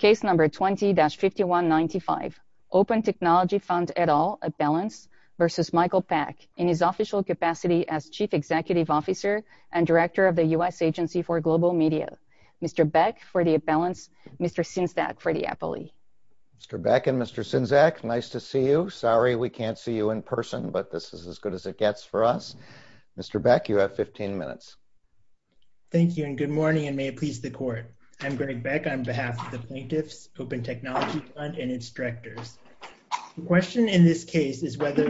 in his official capacity as Chief Executive Officer and Director of the U.S. Agency for Global Media. Mr. Beck for the appellants, Mr. Sinzak for the appellee. Mr. Beck and Mr. Sinzak, nice to see you. Sorry we can't see you in person, but this is as good as it gets for us. Mr. Beck, you have 15 minutes. Thank you and good morning and may it please the court. I'm Michael Beck on behalf of the Plaintiffs Open Technology Fund and its directors. The question in this case is whether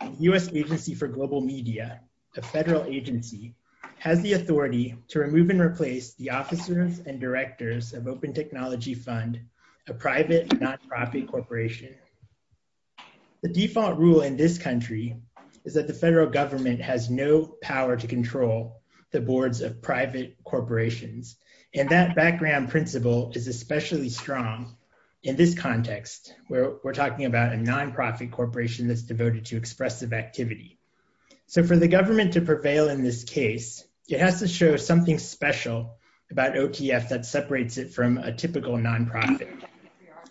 the U.S. Agency for Global Media, a federal agency, has the authority to remove and replace the officers and directors of Open Technology Fund, a private nonprofit corporation. The default rule in this country is that the federal government has no power to control the boards of private corporations. And that background principle is especially strong in this context where we're talking about a nonprofit corporation that's devoted to expressive activity. So for the government to prevail in this case, it has to show something special about OTF that separates it from a typical nonprofit.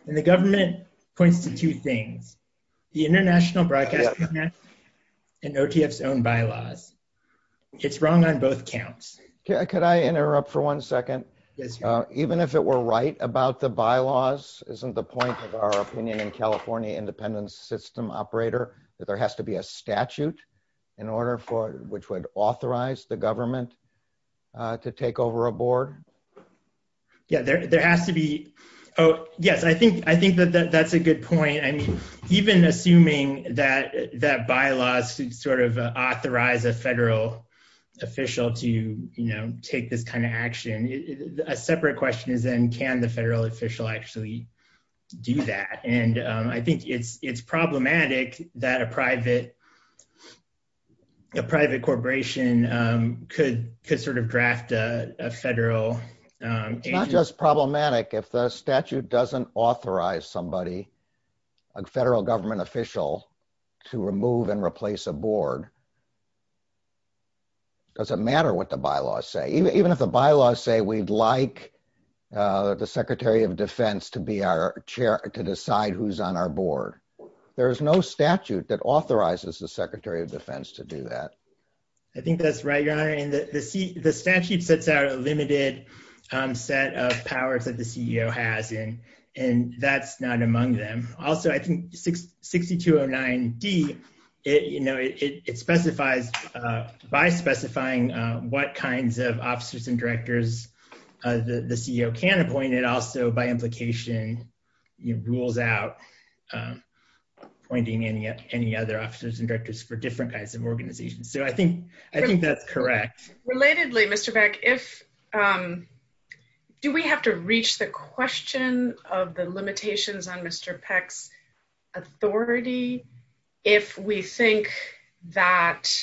And the government points to two things. The International Broadcasting Act and OTF's own bylaws. It's wrong on both counts. Could I interrupt for one second? Yes. Even if it were right about the bylaws, isn't the point of our opinion in California independence system operator that there has to be a statute in order for which would authorize the government to take over a board? Yeah, there has to be. Oh, yes. I think that that's a good point. I mean, even assuming that bylaws sort of authorize a federal official to take this kind of action, a separate question is then can the federal official actually do that? And I think it's problematic that a private corporation could sort of draft a federal agent. It's not just problematic if the statute doesn't authorize somebody, a federal government official, to remove and replace a board. It doesn't matter what the bylaws say. Even if the bylaws say we'd like the Secretary of Defense to be our chair, to decide who's on our board. There is no statute that authorizes the Secretary of Defense to do that. I think that's right, Your Honor. And the statute sets out a limited set of powers that the CEO has, and that's not among them. Also, I think 6209D, it specifies, by specifying what kinds of officers and directors the CEO can appoint, it also, by implication, rules out appointing any other officers and directors for different kinds of organizations. So I think that's correct. Relatedly, Mr. Beck, do we have to reach the question of the limitations on Mr. Peck's authority if we think that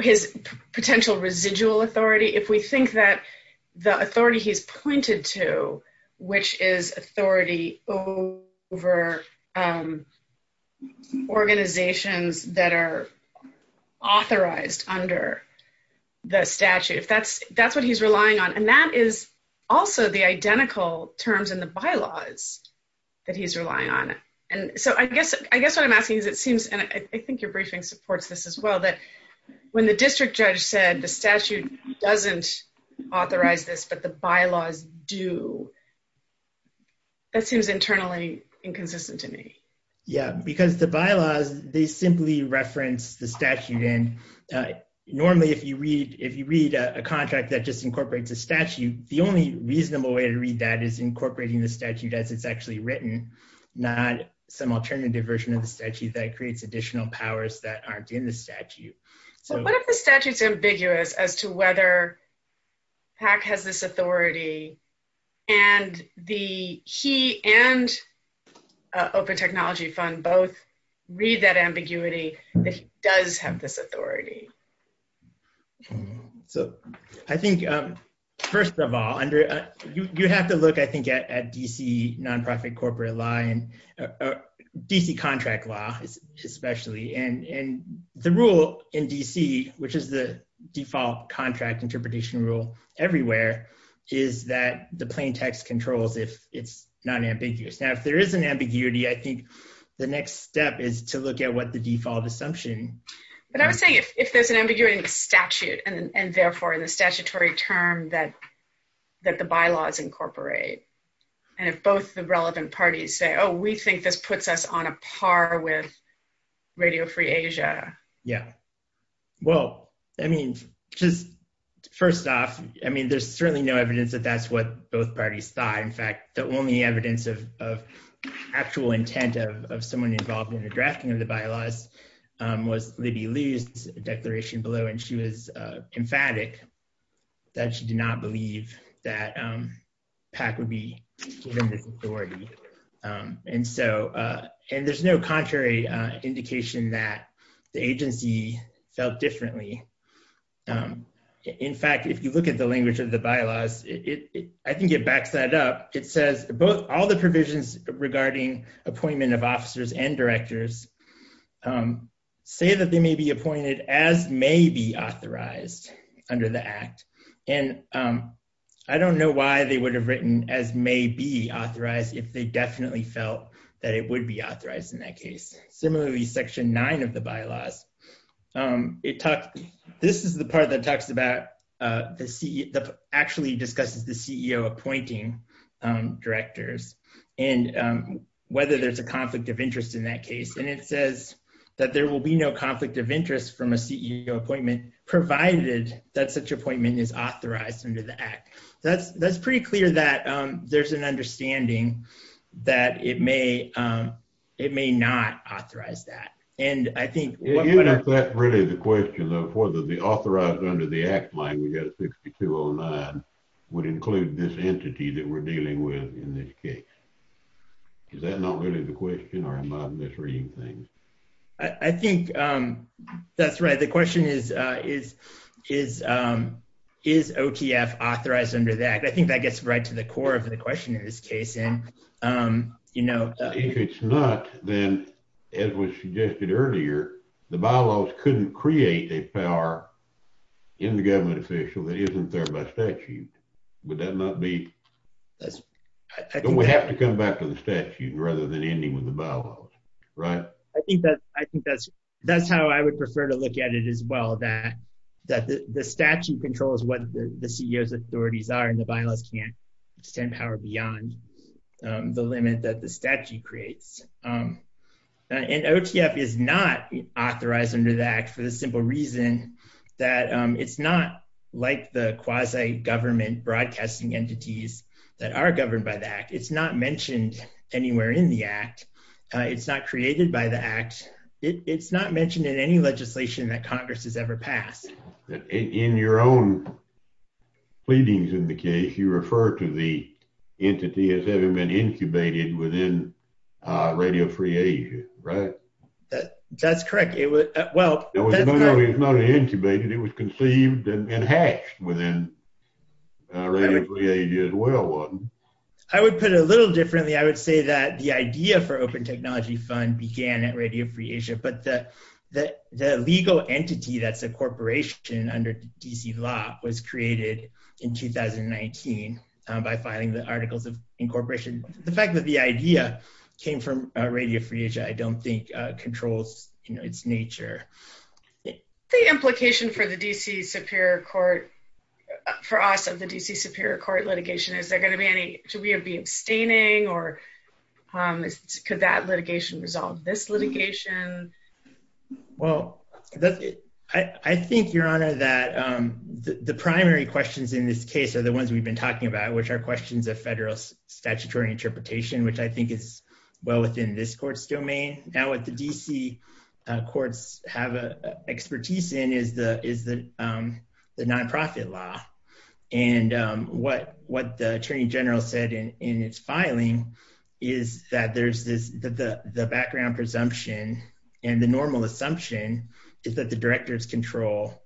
his potential residual authority, if we think that the authority he's pointed to, which is authority over organizations that are authorized under the statute, if that's what he's relying on. And that is also the identical terms in the bylaws that he's relying on. And so I guess what I'm asking is, it seems, and I think your briefing supports this as well, that when the district judge said the statute doesn't authorize this, but the bylaws do, that seems internally inconsistent to me. Yeah, because the bylaws, they simply reference the statute. Normally, if you read a contract that just incorporates a statute, the only reasonable way to read that is incorporating the statute as it's actually written, not some alternative version of the statute that creates additional powers that aren't in the statute. So what if the statute's ambiguous as to whether Peck has this authority and he and Open Technology Fund both read that ambiguity that he does have this authority? So I think, first of all, you have to look, I think, at D.C. nonprofit corporate law and D.C. contract law, especially. And the rule in D.C., which is the default contract interpretation rule everywhere, is that the plain text controls if it's not ambiguous. Now, if there is an ambiguity, I think the next step is to look at what the default assumption. But I was saying, if there's an ambiguity in the statute and therefore in the statutory term that the bylaws incorporate, and if both the relevant parties say, oh, we think this puts us on a par with Radio Free Asia. Yeah. Well, I mean, just first off, I mean, there's certainly no evidence that that's what both parties thought. In fact, the only evidence of actual intent of someone involved in the drafting of the bylaws was Libby Liu's declaration below. And she was emphatic that she did not believe that Peck would be given this authority. And so and there's no contrary indication that the agency felt differently. In fact, if you look at the language of the bylaws, I think it backs that up. It says all the provisions regarding appointment of officers and directors say that they may be appointed as may be authorized under the act. And I don't know why they would have written as may be authorized if they definitely felt that it would be authorized in that case. Similarly, Section 9 of the bylaws, it talks, this is the part that talks about the CEO that actually discusses the CEO appointing directors and whether there's a conflict of interest in that case. And it says that there will be no conflict of interest from a CEO appointment, provided that such appointment is authorized under the act. That's pretty clear that there's an understanding that it may not authorize that. And I think- Is that really the question of whether the authorized under the act language of 6209 would include this entity that we're dealing with in this case? Is that not really the question or am I misreading things? I think that's right. The question is, is OTF authorized under the act? I think that gets right to the core of the question in this case. If it's not, then as was suggested earlier, the bylaws couldn't create a power in the government official that isn't there by statute. Would that not be- We have to come back to the statute rather than ending with the bylaws, right? I think that's how I would prefer to look at it as well, that the statute controls what the CEO's authorities are and the bylaws can't extend power beyond the limit that the statute creates. And OTF is not authorized under the act for the simple reason that it's not like the quasi-government broadcasting entities that are governed by the act. It's not mentioned anywhere in the act. It's not created by the act. It's not mentioned in any legislation that Congress has ever passed. In your own pleadings in the case, you refer to the entity as having been incubated within Radio Free Asia, right? That's correct. It was not incubated. It was conceived and hatched within Radio Free Asia as well, wasn't it? I would put it a little differently. I would say that the idea for Open Technology Fund began at Radio Free Asia, but the legal entity that's a corporation under D.C. law was created in 2019 by filing the Articles of Incorporation. The fact that the idea came from Radio Free Asia I don't think controls its nature. The implication for us of the D.C. Superior Court litigation, should we be abstaining or could that litigation resolve this litigation? Well, I think, Your Honor, that the primary questions in this case are the ones we've been talking about, which are questions of federal statutory interpretation, which I think is well within this court's domain. Now, what the D.C. courts have expertise in is the nonprofit law. And what the Attorney General said in its filing is that the background presumption and the normal assumption is that the directors control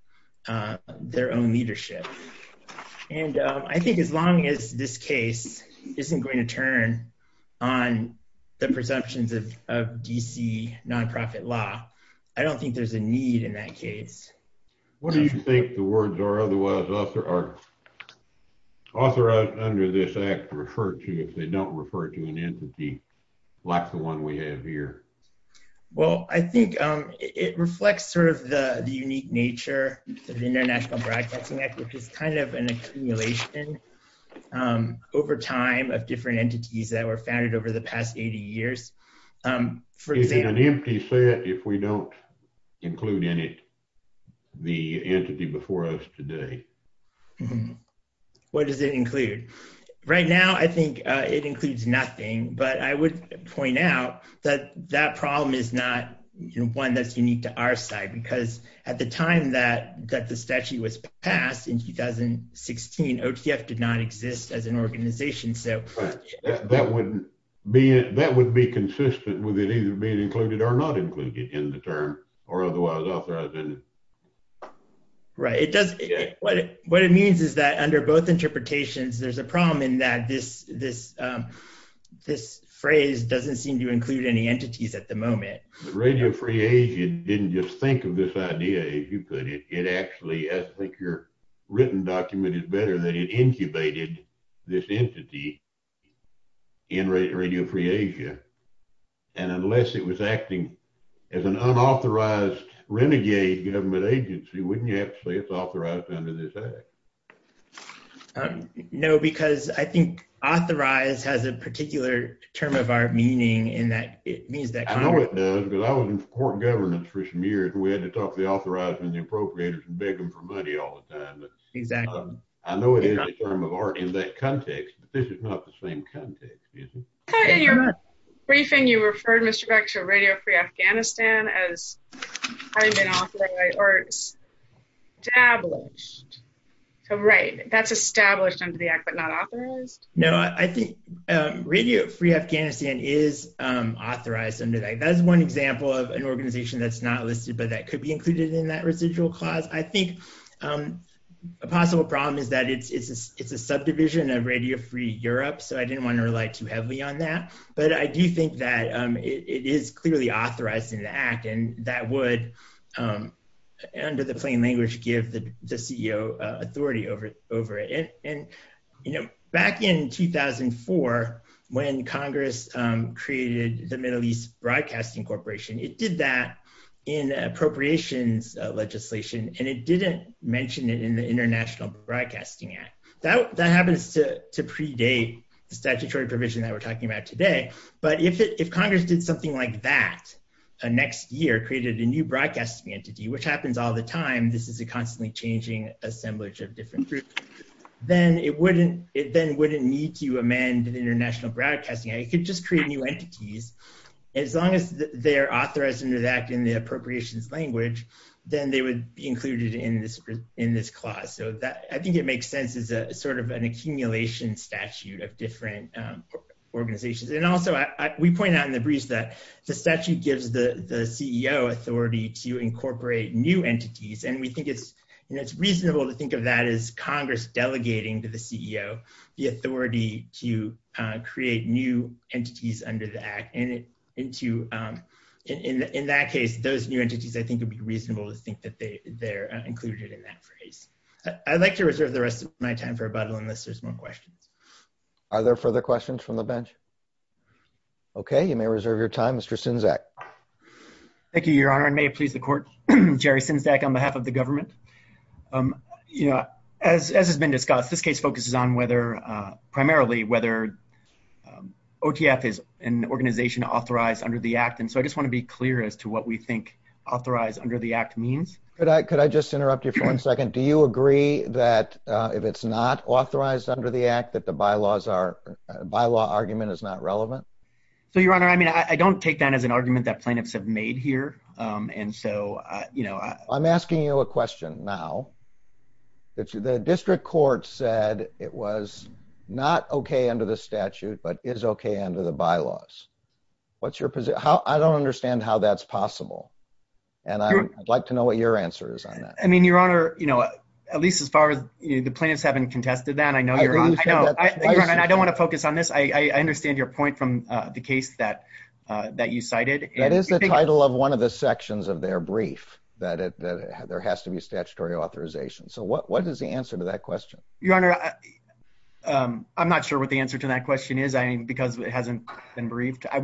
their own leadership. And I think as long as this case isn't going to turn on the presumptions of D.C. nonprofit law, I don't think there's a need in that case. What do you think the words are authorized under this act refer to if they don't refer to an entity like the one we have here? Well, I think it reflects sort of the unique nature of the International Broadcasting Act, which is kind of an accumulation over time of different entities that were founded over the past 80 years. Is it an empty set if we don't include in it the entity before us today? What does it include? Right now, I think it includes nothing. But I would point out that that problem is not one that's unique to our side, because at the time that the statute was passed in 2016, OTF did not exist as an organization. So that would be that would be consistent with it either being included or not included in the term or otherwise authorized. Right. What it means is that under both interpretations, there's a problem in that this phrase doesn't seem to include any entities at the moment. Radio Free Asia didn't just think of this idea, as you put it. I think your written document is better that it incubated this entity in Radio Free Asia. And unless it was acting as an unauthorized, renegade government agency, wouldn't you have to say it's authorized under this act? No, because I think authorized has a particular term of our meaning. I know it does, because I was in court governance for some years. We had to talk to the authorizer and the appropriators and beg them for money all the time. I know it is a term of art in that context, but this is not the same context, is it? In your briefing, you referred, Mr. Beck, to Radio Free Afghanistan as having been authorized or established. So, right, that's established under the act, but not authorized? No, I think Radio Free Afghanistan is authorized under that. That is one example of an organization that's not listed, but that could be included in that residual clause. I think a possible problem is that it's a subdivision of Radio Free Europe, so I didn't want to rely too heavily on that. But I do think that it is clearly authorized in the act, and that would, under the plain language, give the CEO authority over it. Back in 2004, when Congress created the Middle East Broadcasting Corporation, it did that in appropriations legislation, and it didn't mention it in the International Broadcasting Act. That happens to predate the statutory provision that we're talking about today, but if Congress did something like that next year, created a new broadcasting entity, which happens all the time, this is a constantly changing assemblage of different groups, then it wouldn't need to amend the International Broadcasting Act. It could just create new entities. As long as they're authorized under the act in the appropriations language, then they would be included in this clause. So I think it makes sense as sort of an accumulation statute of different organizations. And also, we point out in the briefs that the statute gives the CEO authority to incorporate new entities, and we think it's reasonable to think of that as Congress delegating to the CEO the authority to create new entities under the act. And in that case, those new entities I think would be reasonable to think that they're included in that phrase. I'd like to reserve the rest of my time for rebuttal unless there's more questions. Are there further questions from the bench? Okay, you may reserve your time. Mr. Sinzak. Thank you, Your Honor, and may it please the court. Jerry Sinzak on behalf of the government. You know, as has been discussed, this case focuses on primarily whether OTF is an organization authorized under the act, and so I just want to be clear as to what we think authorized under the act means. Could I just interrupt you for one second? Do you agree that if it's not authorized under the act that the bylaw argument is not relevant? So, Your Honor, I mean, I don't take that as an argument that plaintiffs have made here. And so, you know, I'm asking you a question now. The district court said it was not okay under the statute but is okay under the bylaws. What's your position? I don't understand how that's possible, and I'd like to know what your answer is on that. I mean, Your Honor, you know, at least as far as the plaintiffs haven't contested that, I know you're not. I don't want to focus on this. I understand your point from the case that you cited. That is the title of one of the sections of their brief, that there has to be statutory authorization. So what is the answer to that question? Your Honor, I'm not sure what the answer to that question is because it hasn't been briefed. It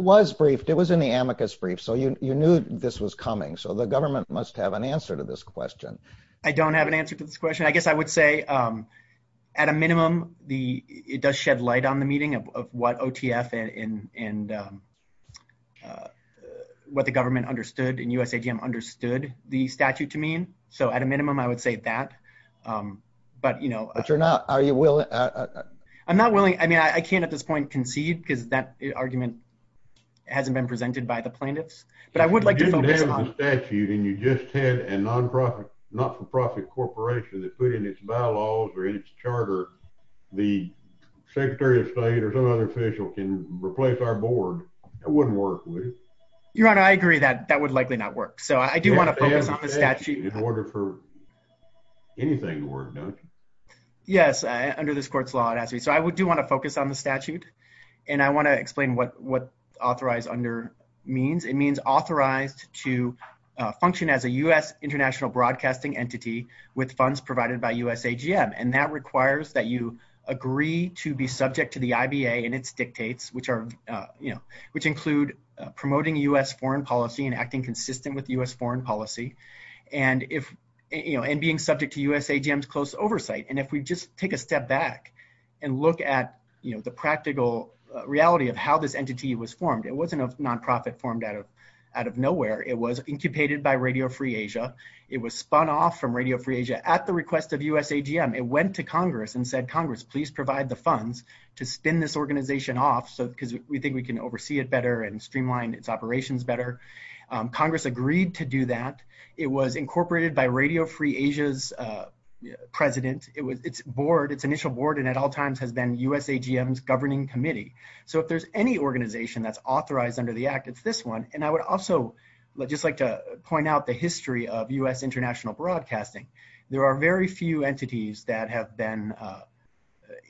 was briefed. It was in the amicus brief, so you knew this was coming. So the government must have an answer to this question. I don't have an answer to this question. I guess I would say at a minimum, it does shed light on the meeting of what OTF and what the government understood and USAGM understood the statute to mean. So at a minimum, I would say that. But, you know. But you're not. Are you willing? I'm not willing. I mean, I can't at this point concede because that argument hasn't been presented by the plaintiffs. But I would like to focus on. If you didn't have the statute and you just had a not-for-profit corporation that put in its bylaws or its charter, the Secretary of State or some other official can replace our board, that wouldn't work, would it? Your Honor, I agree that that would likely not work. So I do want to focus on the statute. You have to have the statute in order for anything to work, don't you? Yes, under this court's law, it has to. So I do want to focus on the statute. And I want to explain what authorized under means. It means authorized to function as a U.S. international broadcasting entity with funds provided by USAGM. And that requires that you agree to be subject to the IBA and its dictates, which include promoting U.S. foreign policy and acting consistent with U.S. foreign policy and being subject to USAGM's close oversight. And if we just take a step back and look at the practical reality of how this entity was formed. It wasn't a nonprofit formed out of nowhere. It was incubated by Radio Free Asia. It was spun off from Radio Free Asia at the request of USAGM. It went to Congress and said, Congress, please provide the funds to spin this organization off because we think we can oversee it better and streamline its operations better. Congress agreed to do that. It was incorporated by Radio Free Asia's president. Its board, its initial board, and at all times has been USAGM's governing committee. So if there's any organization that's authorized under the act, it's this one. And I would also just like to point out the history of U.S. international broadcasting. There are very few entities that have been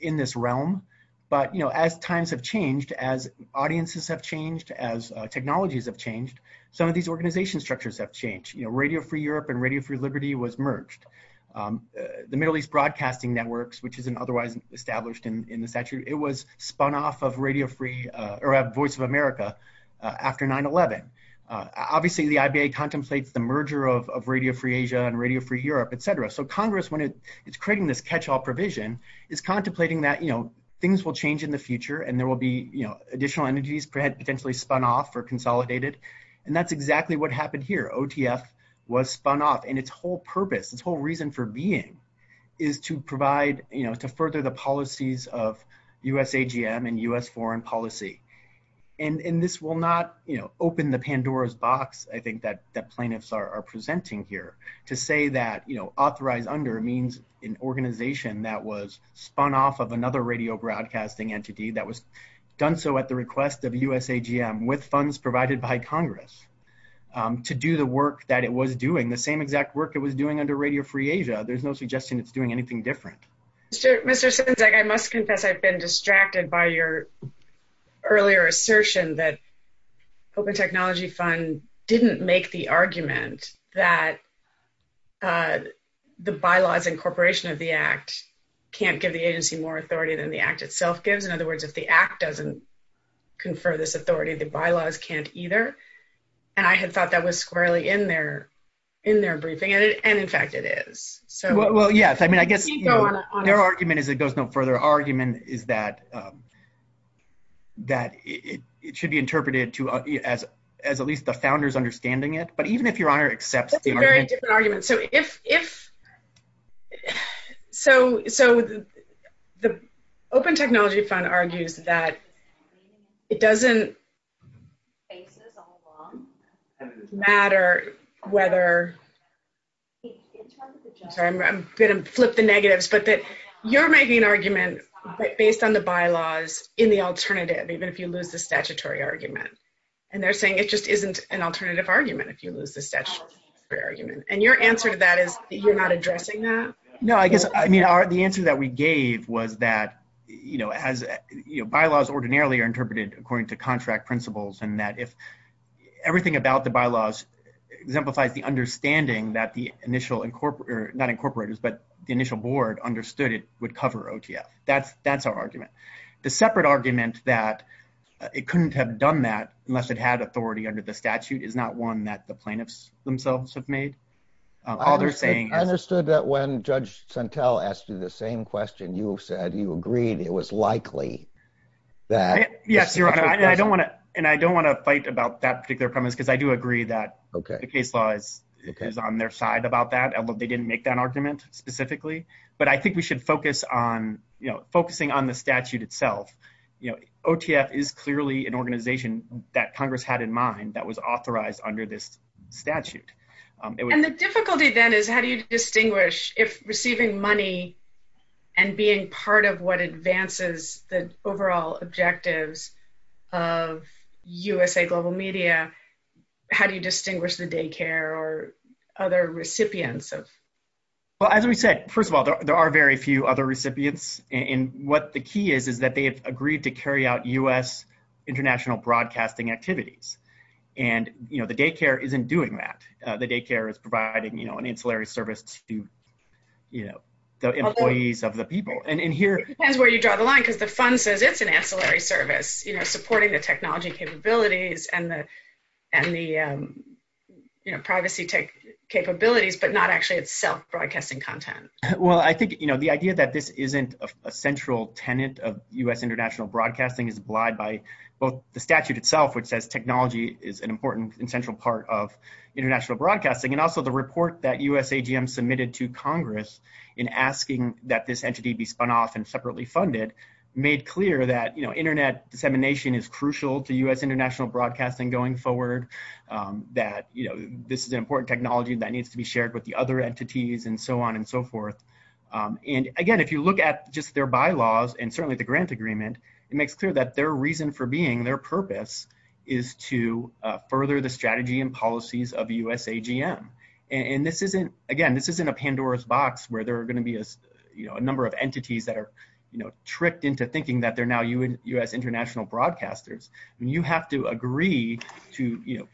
in this realm. But, you know, as times have changed, as audiences have changed, as technologies have changed, some of these organization structures have changed. Radio Free Europe and Radio Free Liberty was merged. The Middle East Broadcasting Networks, which isn't otherwise established in this statute, it was spun off of Radio Free or Voice of America after 9-11. Obviously, the IBA contemplates the merger of Radio Free Asia and Radio Free Europe, et cetera. So Congress, when it's creating this catch-all provision, is contemplating that, you know, things will change in the future and there will be, you know, additional energies potentially spun off or consolidated. And that's exactly what happened here. OTF was spun off. And its whole purpose, its whole reason for being is to provide, you know, to further the policies of USAGM and U.S. foreign policy. And this will not, you know, open the Pandora's box, I think, that plaintiffs are presenting here to say that, you know, the same exact work it was doing under Radio Free Asia. There's no suggestion it's doing anything different. Mr. Sendzik, I must confess I've been distracted by your earlier assertion that Open Technology Fund didn't make the argument that the bylaws incorporation of the Act can't give the agency more authority than the Act itself gives. In other words, if the Act doesn't confer this authority, the bylaws can't either. And I had thought that was squarely in their briefing. And, in fact, it is. Well, yes. I mean, I guess their argument is it goes no further. Their argument is that it should be interpreted as at least the founders understanding it. But even if Your Honor accepts the argument. That's a very different argument. So, the Open Technology Fund argues that it doesn't matter whether, I'm going to flip the negatives, but that you're making an argument based on the bylaws in the alternative, even if you lose the statutory argument. And they're saying it just isn't an alternative argument if you lose the statutory argument. And your answer to that is that you're not addressing that? No, I guess, I mean, the answer that we gave was that, you know, bylaws ordinarily are interpreted according to contract principles. And that if everything about the bylaws exemplifies the understanding that the initial, not incorporators, but the initial board understood it would cover OTF. That's our argument. The separate argument that it couldn't have done that unless it had authority under the statute is not one that the plaintiffs themselves have made. All they're saying is. I understood that when Judge Santel asked you the same question, you said you agreed it was likely that. Yes, Your Honor. And I don't want to fight about that particular premise because I do agree that the case law is on their side about that. Although they didn't make that argument specifically. But I think we should focus on, you know, focusing on the statute itself. You know, OTF is clearly an organization that Congress had in mind that was authorized under this statute. And the difficulty then is how do you distinguish if receiving money and being part of what advances the overall objectives of USA Global Media? How do you distinguish the daycare or other recipients of? Well, as we said, first of all, there are very few other recipients. And what the key is, is that they have agreed to carry out U.S. international broadcasting activities. And, you know, the daycare isn't doing that. The daycare is providing, you know, an ancillary service to, you know, the employees of the people. It depends where you draw the line because the fund says it's an ancillary service, you know, supporting the technology capabilities and the, you know, privacy capabilities, but not actually itself broadcasting content. Well, I think, you know, the idea that this isn't a central tenant of U.S. international broadcasting is blind by both the statute itself, which says technology is an important and central part of international broadcasting. And also the report that USAGM submitted to Congress in asking that this entity be spun off and separately funded made clear that, you know, Internet dissemination is crucial to U.S. international broadcasting going forward. That, you know, this is an important technology that needs to be shared with the other entities and so on and so forth. And, again, if you look at just their bylaws and certainly the grant agreement, it makes clear that their reason for being, their purpose, is to further the strategy and policies of USAGM. And this isn't, again, this isn't a Pandora's box where there are going to be, you know, a number of entities that are, you know, tricked into thinking that they're now U.S. international broadcasters. You have to agree to, you know,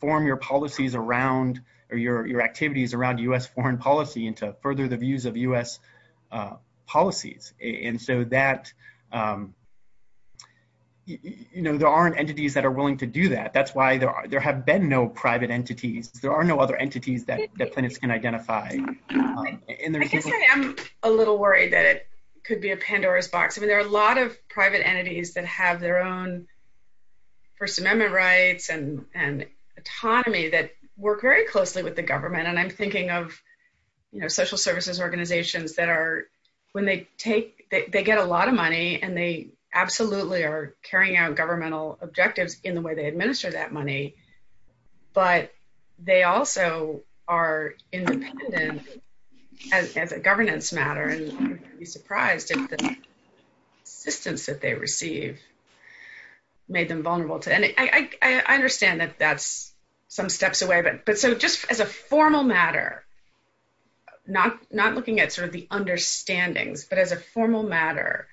form your policies around or your activities around U.S. foreign policy and to further the views of U.S. policies. And so that, you know, there aren't entities that are willing to do that. That's why there have been no private entities. There are no other entities that planets can identify. I guess I am a little worried that it could be a Pandora's box. I mean, there are a lot of private entities that have their own First Amendment rights and autonomy that work very closely with the government. And I'm thinking of, you know, social services organizations that are, when they take, they get a lot of money and they absolutely are carrying out governmental objectives in the way they administer that money. But they also are independent as a governance matter. And I'd be surprised if the assistance that they receive made them vulnerable to it. I understand that that's some steps away. But so just as a formal matter, not looking at sort of the understandings, but as a formal matter,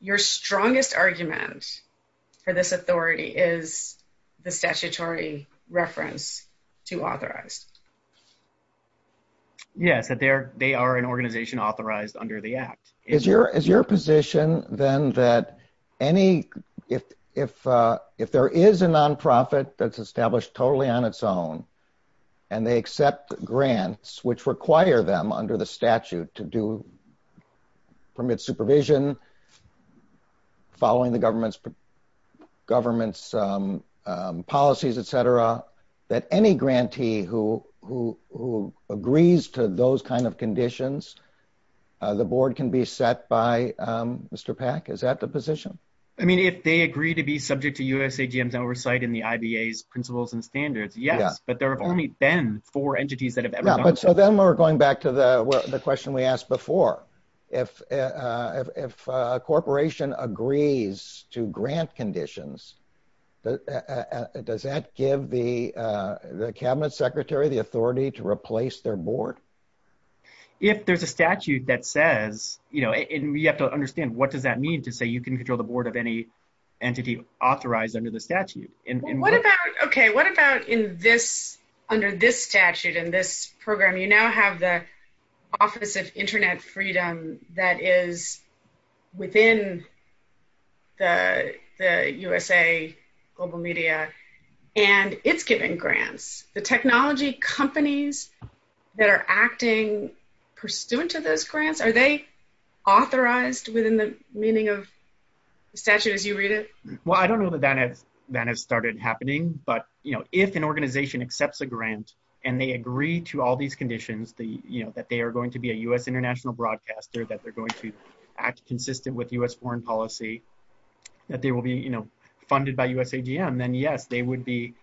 your strongest argument for this authority is the statutory reference to authorized. Yes, that they are an organization authorized under the Act. Is your position then that any, if there is a nonprofit that's established totally on its own, and they accept grants, which require them under the statute to do, permit supervision, following the government's policies, etc., that any grantee who agrees to those kind of conditions, the board can be set by Mr. Pack? Is that the position? I mean, if they agree to be subject to USAGM's oversight in the IBA's principles and standards, yes, but there have only been four entities that have ever done so. So then we're going back to the question we asked before. If a corporation agrees to grant conditions, does that give the Cabinet Secretary the authority to replace their board? If there's a statute that says, you know, and we have to understand, what does that mean to say you can control the board of any entity authorized under the statute? Okay, what about in this, under this statute, in this program, you now have the Office of Internet Freedom that is within the USA Global Media, and it's giving grants. The technology companies that are acting pursuant to those grants, are they authorized within the meaning of the statute as you read it? Well, I don't know that that has started happening, but, you know, if an organization accepts a grant, and they agree to all these conditions, you know, that they are going to be a U.S. international broadcaster, that they're going to act consistent with U.S. foreign policy, that they will be, you know, funded by USAGM, then yes, they would be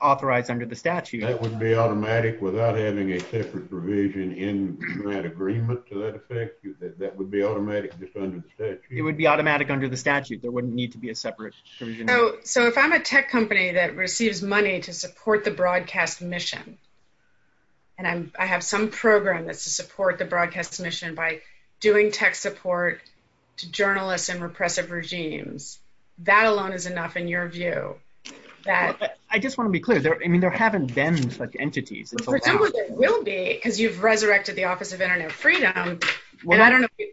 authorized under the statute. That would be automatic without having a separate provision in that agreement to that effect? That would be automatic just under the statute? It would be automatic under the statute, there wouldn't need to be a separate provision. So if I'm a tech company that receives money to support the broadcast mission, and I have some program that's to support the broadcast mission by doing tech support to journalists and repressive regimes, that alone is enough in your view? I just want to be clear, I mean, there haven't been such entities. There will be, because you've resurrected the Office of Internet Freedom, and I don't know if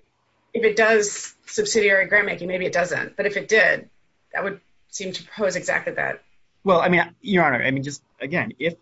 it does subsidiary grant making, maybe it doesn't, but if it did, that would seem to pose exactly that. Well, I mean, Your Honor, I mean, just again, if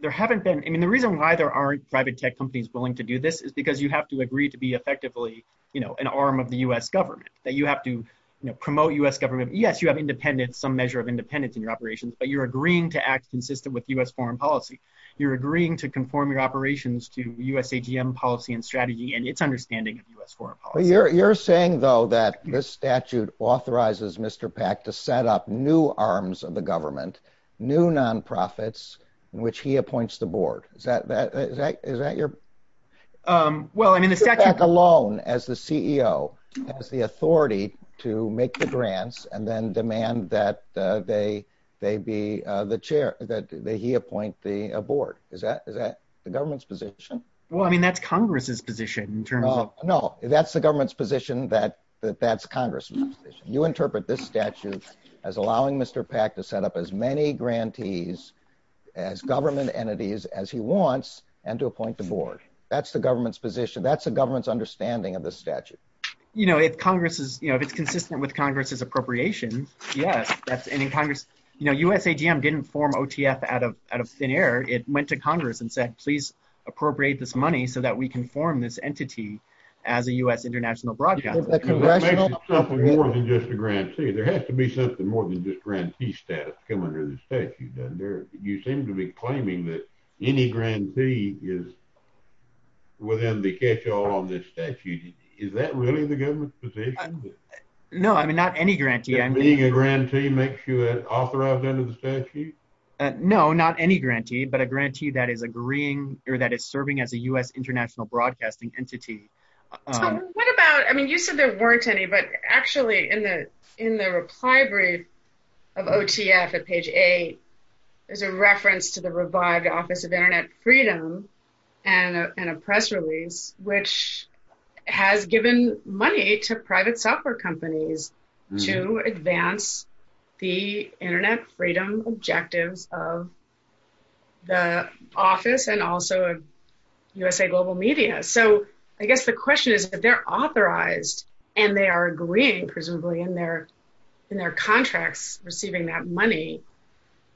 there haven't been, I mean, the reason why there aren't private tech companies willing to do this is because you have to agree to be effectively, you know, an arm of the U.S. government, that you have to, you know, promote U.S. government. Yes, you have independence, some measure of independence in your operations, but you're agreeing to act consistent with U.S. foreign policy. You're agreeing to conform your operations to U.S. AGM policy and strategy and its understanding of U.S. foreign policy. You're saying, though, that this statute authorizes Mr. Pack to set up new arms of the government, new nonprofits, in which he appoints the board. Well, I mean, the statute… Mr. Pack alone, as the CEO, has the authority to make the grants and then demand that they be the chair, that he appoint the board. Is that the government's position? Well, I mean, that's Congress's position in terms of… No, that's the government's position that that's Congress's position. You interpret this statute as allowing Mr. Pack to set up as many grantees as government entities as he wants and to appoint the board. That's the government's position. That's the government's understanding of the statute. If it's consistent with Congress's appropriation, yes. U.S. AGM didn't form OTF out of thin air. It went to Congress and said, please appropriate this money so that we can form this entity as a U.S. international broadcaster. There has to be something more than just a grantee. There has to be something more than just grantee status coming under the statute. You seem to be claiming that any grantee is within the catch-all on this statute. Is that really the government's position? No, I mean, not any grantee. Being a grantee makes you authorized under the statute? No, not any grantee, but a grantee that is agreeing or that is serving as a U.S. international broadcasting entity. You said there weren't any, but actually in the reply brief of OTF at page 8, there's a reference to the revived Office of Internet Freedom and a press release, which has given money to private software companies to advance the Internet Freedom objectives of the office and also USA Global Media. So I guess the question is, if they're authorized and they are agreeing, presumably, in their contracts receiving that money,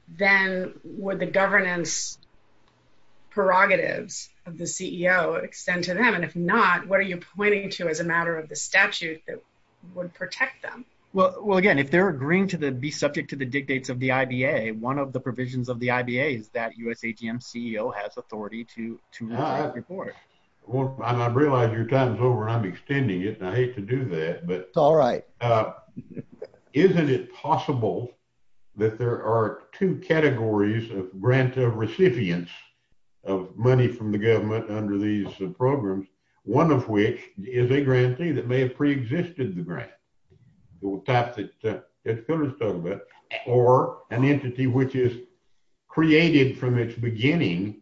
then would the governance prerogatives of the CEO extend to them? And if not, what are you pointing to as a matter of the statute that would protect them? Well, again, if they're agreeing to be subject to the dictates of the IBA, one of the provisions of the IBA is that USA GM CEO has authority to report. I realize your time is over and I'm extending it, and I hate to do that, but isn't it possible that there are two categories of grant recipients of money from the government under these programs, one of which is a grantee that may have preexisted the grant, or an entity which is created from its beginning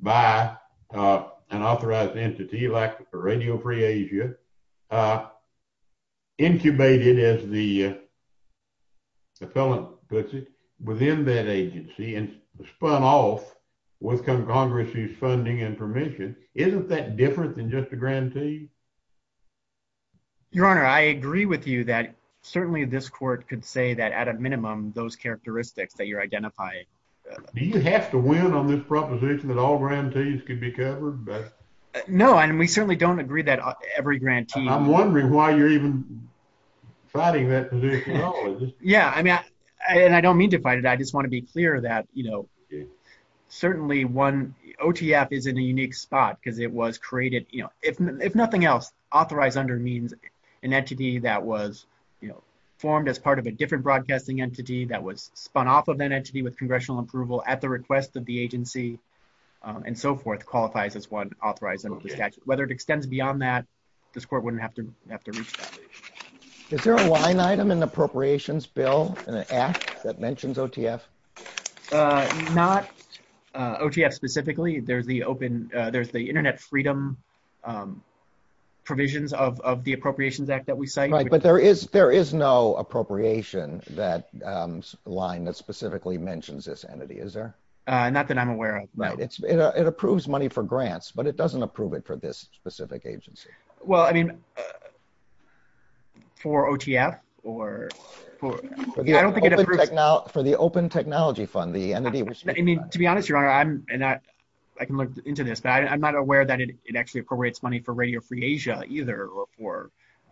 by an authorized entity like Radio Free Asia, incubated as the felon puts it, within that agency and spun off with Congress' funding and permission? Isn't that different than just a grantee? Your Honor, I agree with you that certainly this court could say that, at a minimum, those characteristics that you're identifying… Do you have to win on this proposition that all grantees could be covered? No, and we certainly don't agree that every grantee… I'm wondering why you're even fighting that position at all. Yeah, and I don't mean to fight it. I just want to be clear that, you know, certainly, OTF is in a unique spot because it was created… If nothing else, authorized under means an entity that was formed as part of a different broadcasting entity that was spun off of that entity with congressional approval at the request of the agency and so forth qualifies as one authorized under the statute. Whether it extends beyond that, this court wouldn't have to reach that. Is there a line item in the Appropriations Bill, in the Act, that mentions OTF? Not OTF specifically. There's the Internet Freedom provisions of the Appropriations Act that we cite. Right, but there is no appropriation line that specifically mentions this entity, is there? Not that I'm aware of. It approves money for grants, but it doesn't approve it for this specific agency. Well, I mean, for OTF or… For the Open Technology Fund, the entity which… I mean, to be honest, Your Honor, and I can look into this, but I'm not aware that it actually appropriates money for Radio Free Asia either or for…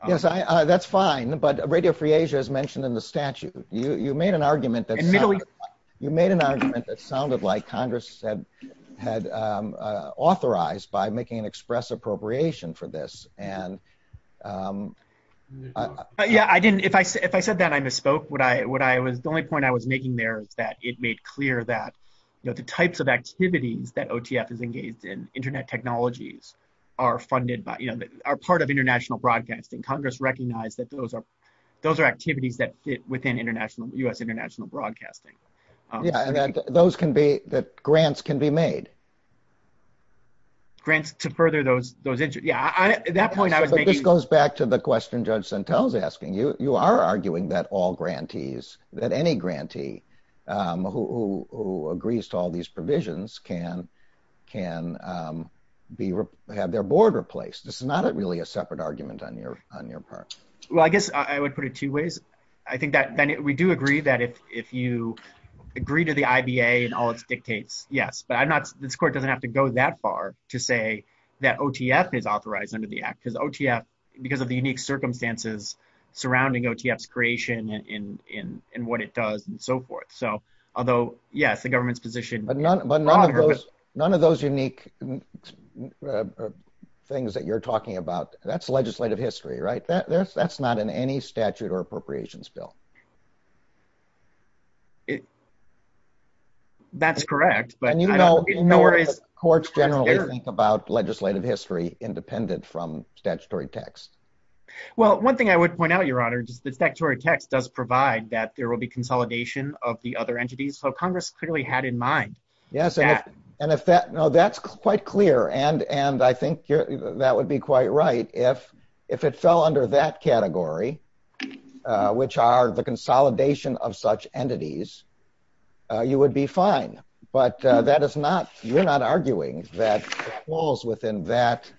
Yes, that's fine, but Radio Free Asia is mentioned in the statute. You made an argument that… …authorized by making an express appropriation for this and… Yeah, I didn't. If I said that, I misspoke. The only point I was making there is that it made clear that the types of activities that OTF is engaged in, Internet technologies, are funded by… are part of international broadcasting. Congress recognized that those are activities that fit within U.S. international broadcasting. Yeah, and that those can be… that grants can be made. Grants to further those… Yeah, at that point, I was making… This goes back to the question Judge Santel is asking. You are arguing that all grantees, that any grantee who agrees to all these provisions can have their board replaced. This is not really a separate argument on your part. Well, I guess I would put it two ways. I think that we do agree that if you agree to the IBA and all its dictates, yes, but I'm not… this court doesn't have to go that far to say that OTF is authorized under the Act because OTF… because of the unique circumstances surrounding OTF's creation and what it does and so forth. So, although, yes, the government's position… None of those unique things that you're talking about, that's legislative history, right? That's not in any statute or appropriations bill. That's correct, but… And you know courts generally think about legislative history independent from statutory text. Well, one thing I would point out, Your Honor, is the statutory text does provide that there will be consolidation of the other entities. So, Congress clearly had in mind that. Yes, and if that… No, that's quite clear. And I think that would be quite right. If it fell under that category, which are the consolidation of such entities, you would be fine. But that is not… you're not arguing that it falls within that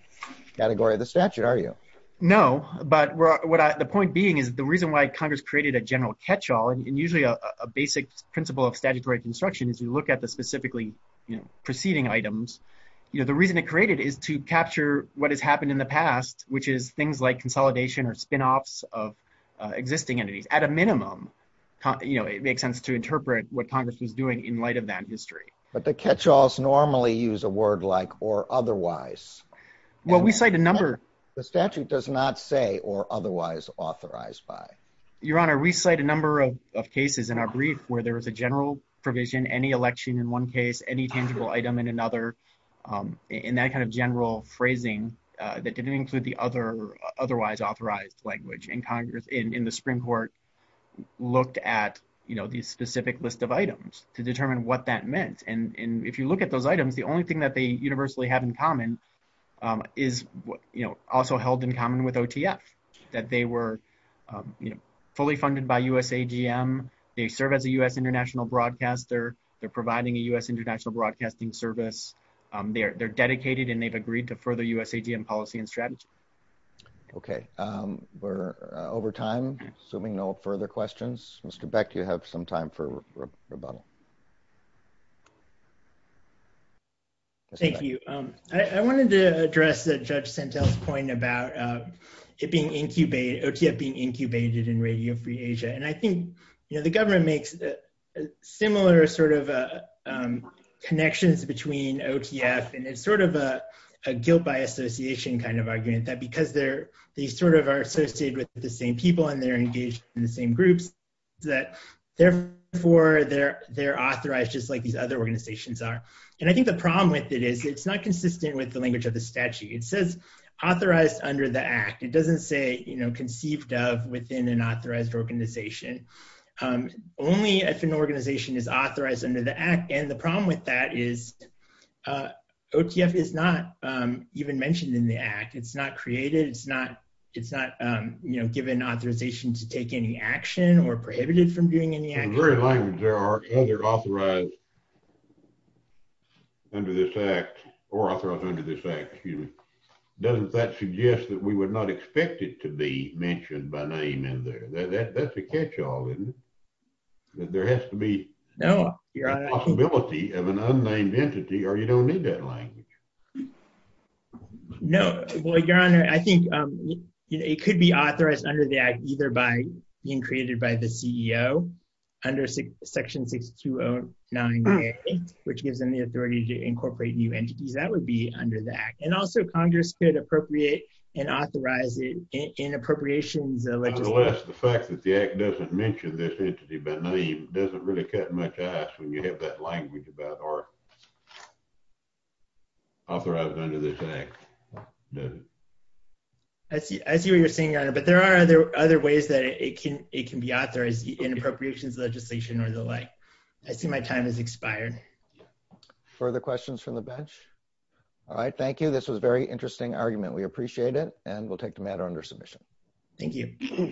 category of the statute, are you? No, but the point being is the reason why Congress created a general catch-all, and usually a basic principle of statutory construction is you look at the specifically preceding items. You know, the reason it created is to capture what has happened in the past, which is things like consolidation or spinoffs of existing entities. At a minimum, you know, it makes sense to interpret what Congress was doing in light of that history. But the catch-alls normally use a word like or otherwise. Well, we cite a number… The statute does not say or otherwise authorized by. Your Honor, we cite a number of cases in our brief where there was a general provision, any election in one case, any tangible item in another, and that kind of general phrasing that didn't include the otherwise authorized language. And the Supreme Court looked at, you know, the specific list of items to determine what that meant. And if you look at those items, the only thing that they universally have in common is, you know, also held in common with OTF, that they were, you know, fully funded by USAGM. They serve as a U.S. international broadcaster. They're providing a U.S. international broadcasting service. They're dedicated and they've agreed to further USAGM policy and strategy. Okay, we're over time, assuming no further questions. Mr. Beck, you have some time for rebuttal. Thank you. I wanted to address Judge Sentelle's point about it being incubated, OTF being incubated in Radio Free Asia. And I think, you know, the government makes similar sort of argument that because they're, they sort of are associated with the same people and they're engaged in the same groups, that therefore they're authorized just like these other organizations are. And I think the problem with it is it's not consistent with the language of the statute. It says authorized under the Act. It doesn't say, you know, conceived of within an authorized organization. Only if an organization is authorized under the Act. And the problem with that is OTF is not even mentioned in the Act. It's not created. It's not, it's not, you know, given authorization to take any action or prohibited from doing any action. The very language there are, authorized under this Act, or authorized under this Act, excuse me, doesn't that suggest that we would not expect it to be mentioned by name in there? That's a catch all, isn't it? There has to be a possibility of an unnamed entity or you don't need that language. No. Well, Your Honor, I think it could be authorized under the Act either by being created by the CEO under Section 6209A, which gives them the authority to incorporate new entities. That would be under the Act. And also Congress could appropriate and authorize it in appropriations legislation. Nonetheless, the fact that the Act doesn't mention this entity by name doesn't really cut much ice when you have that language about our Authorized under the Act. I see what you're saying, Your Honor, but there are other ways that it can be authorized in appropriations legislation or the like. I see my time has expired. Further questions from the bench? All right. Thank you. This was very interesting argument. We appreciate it and we'll take the matter under submission. Thank you.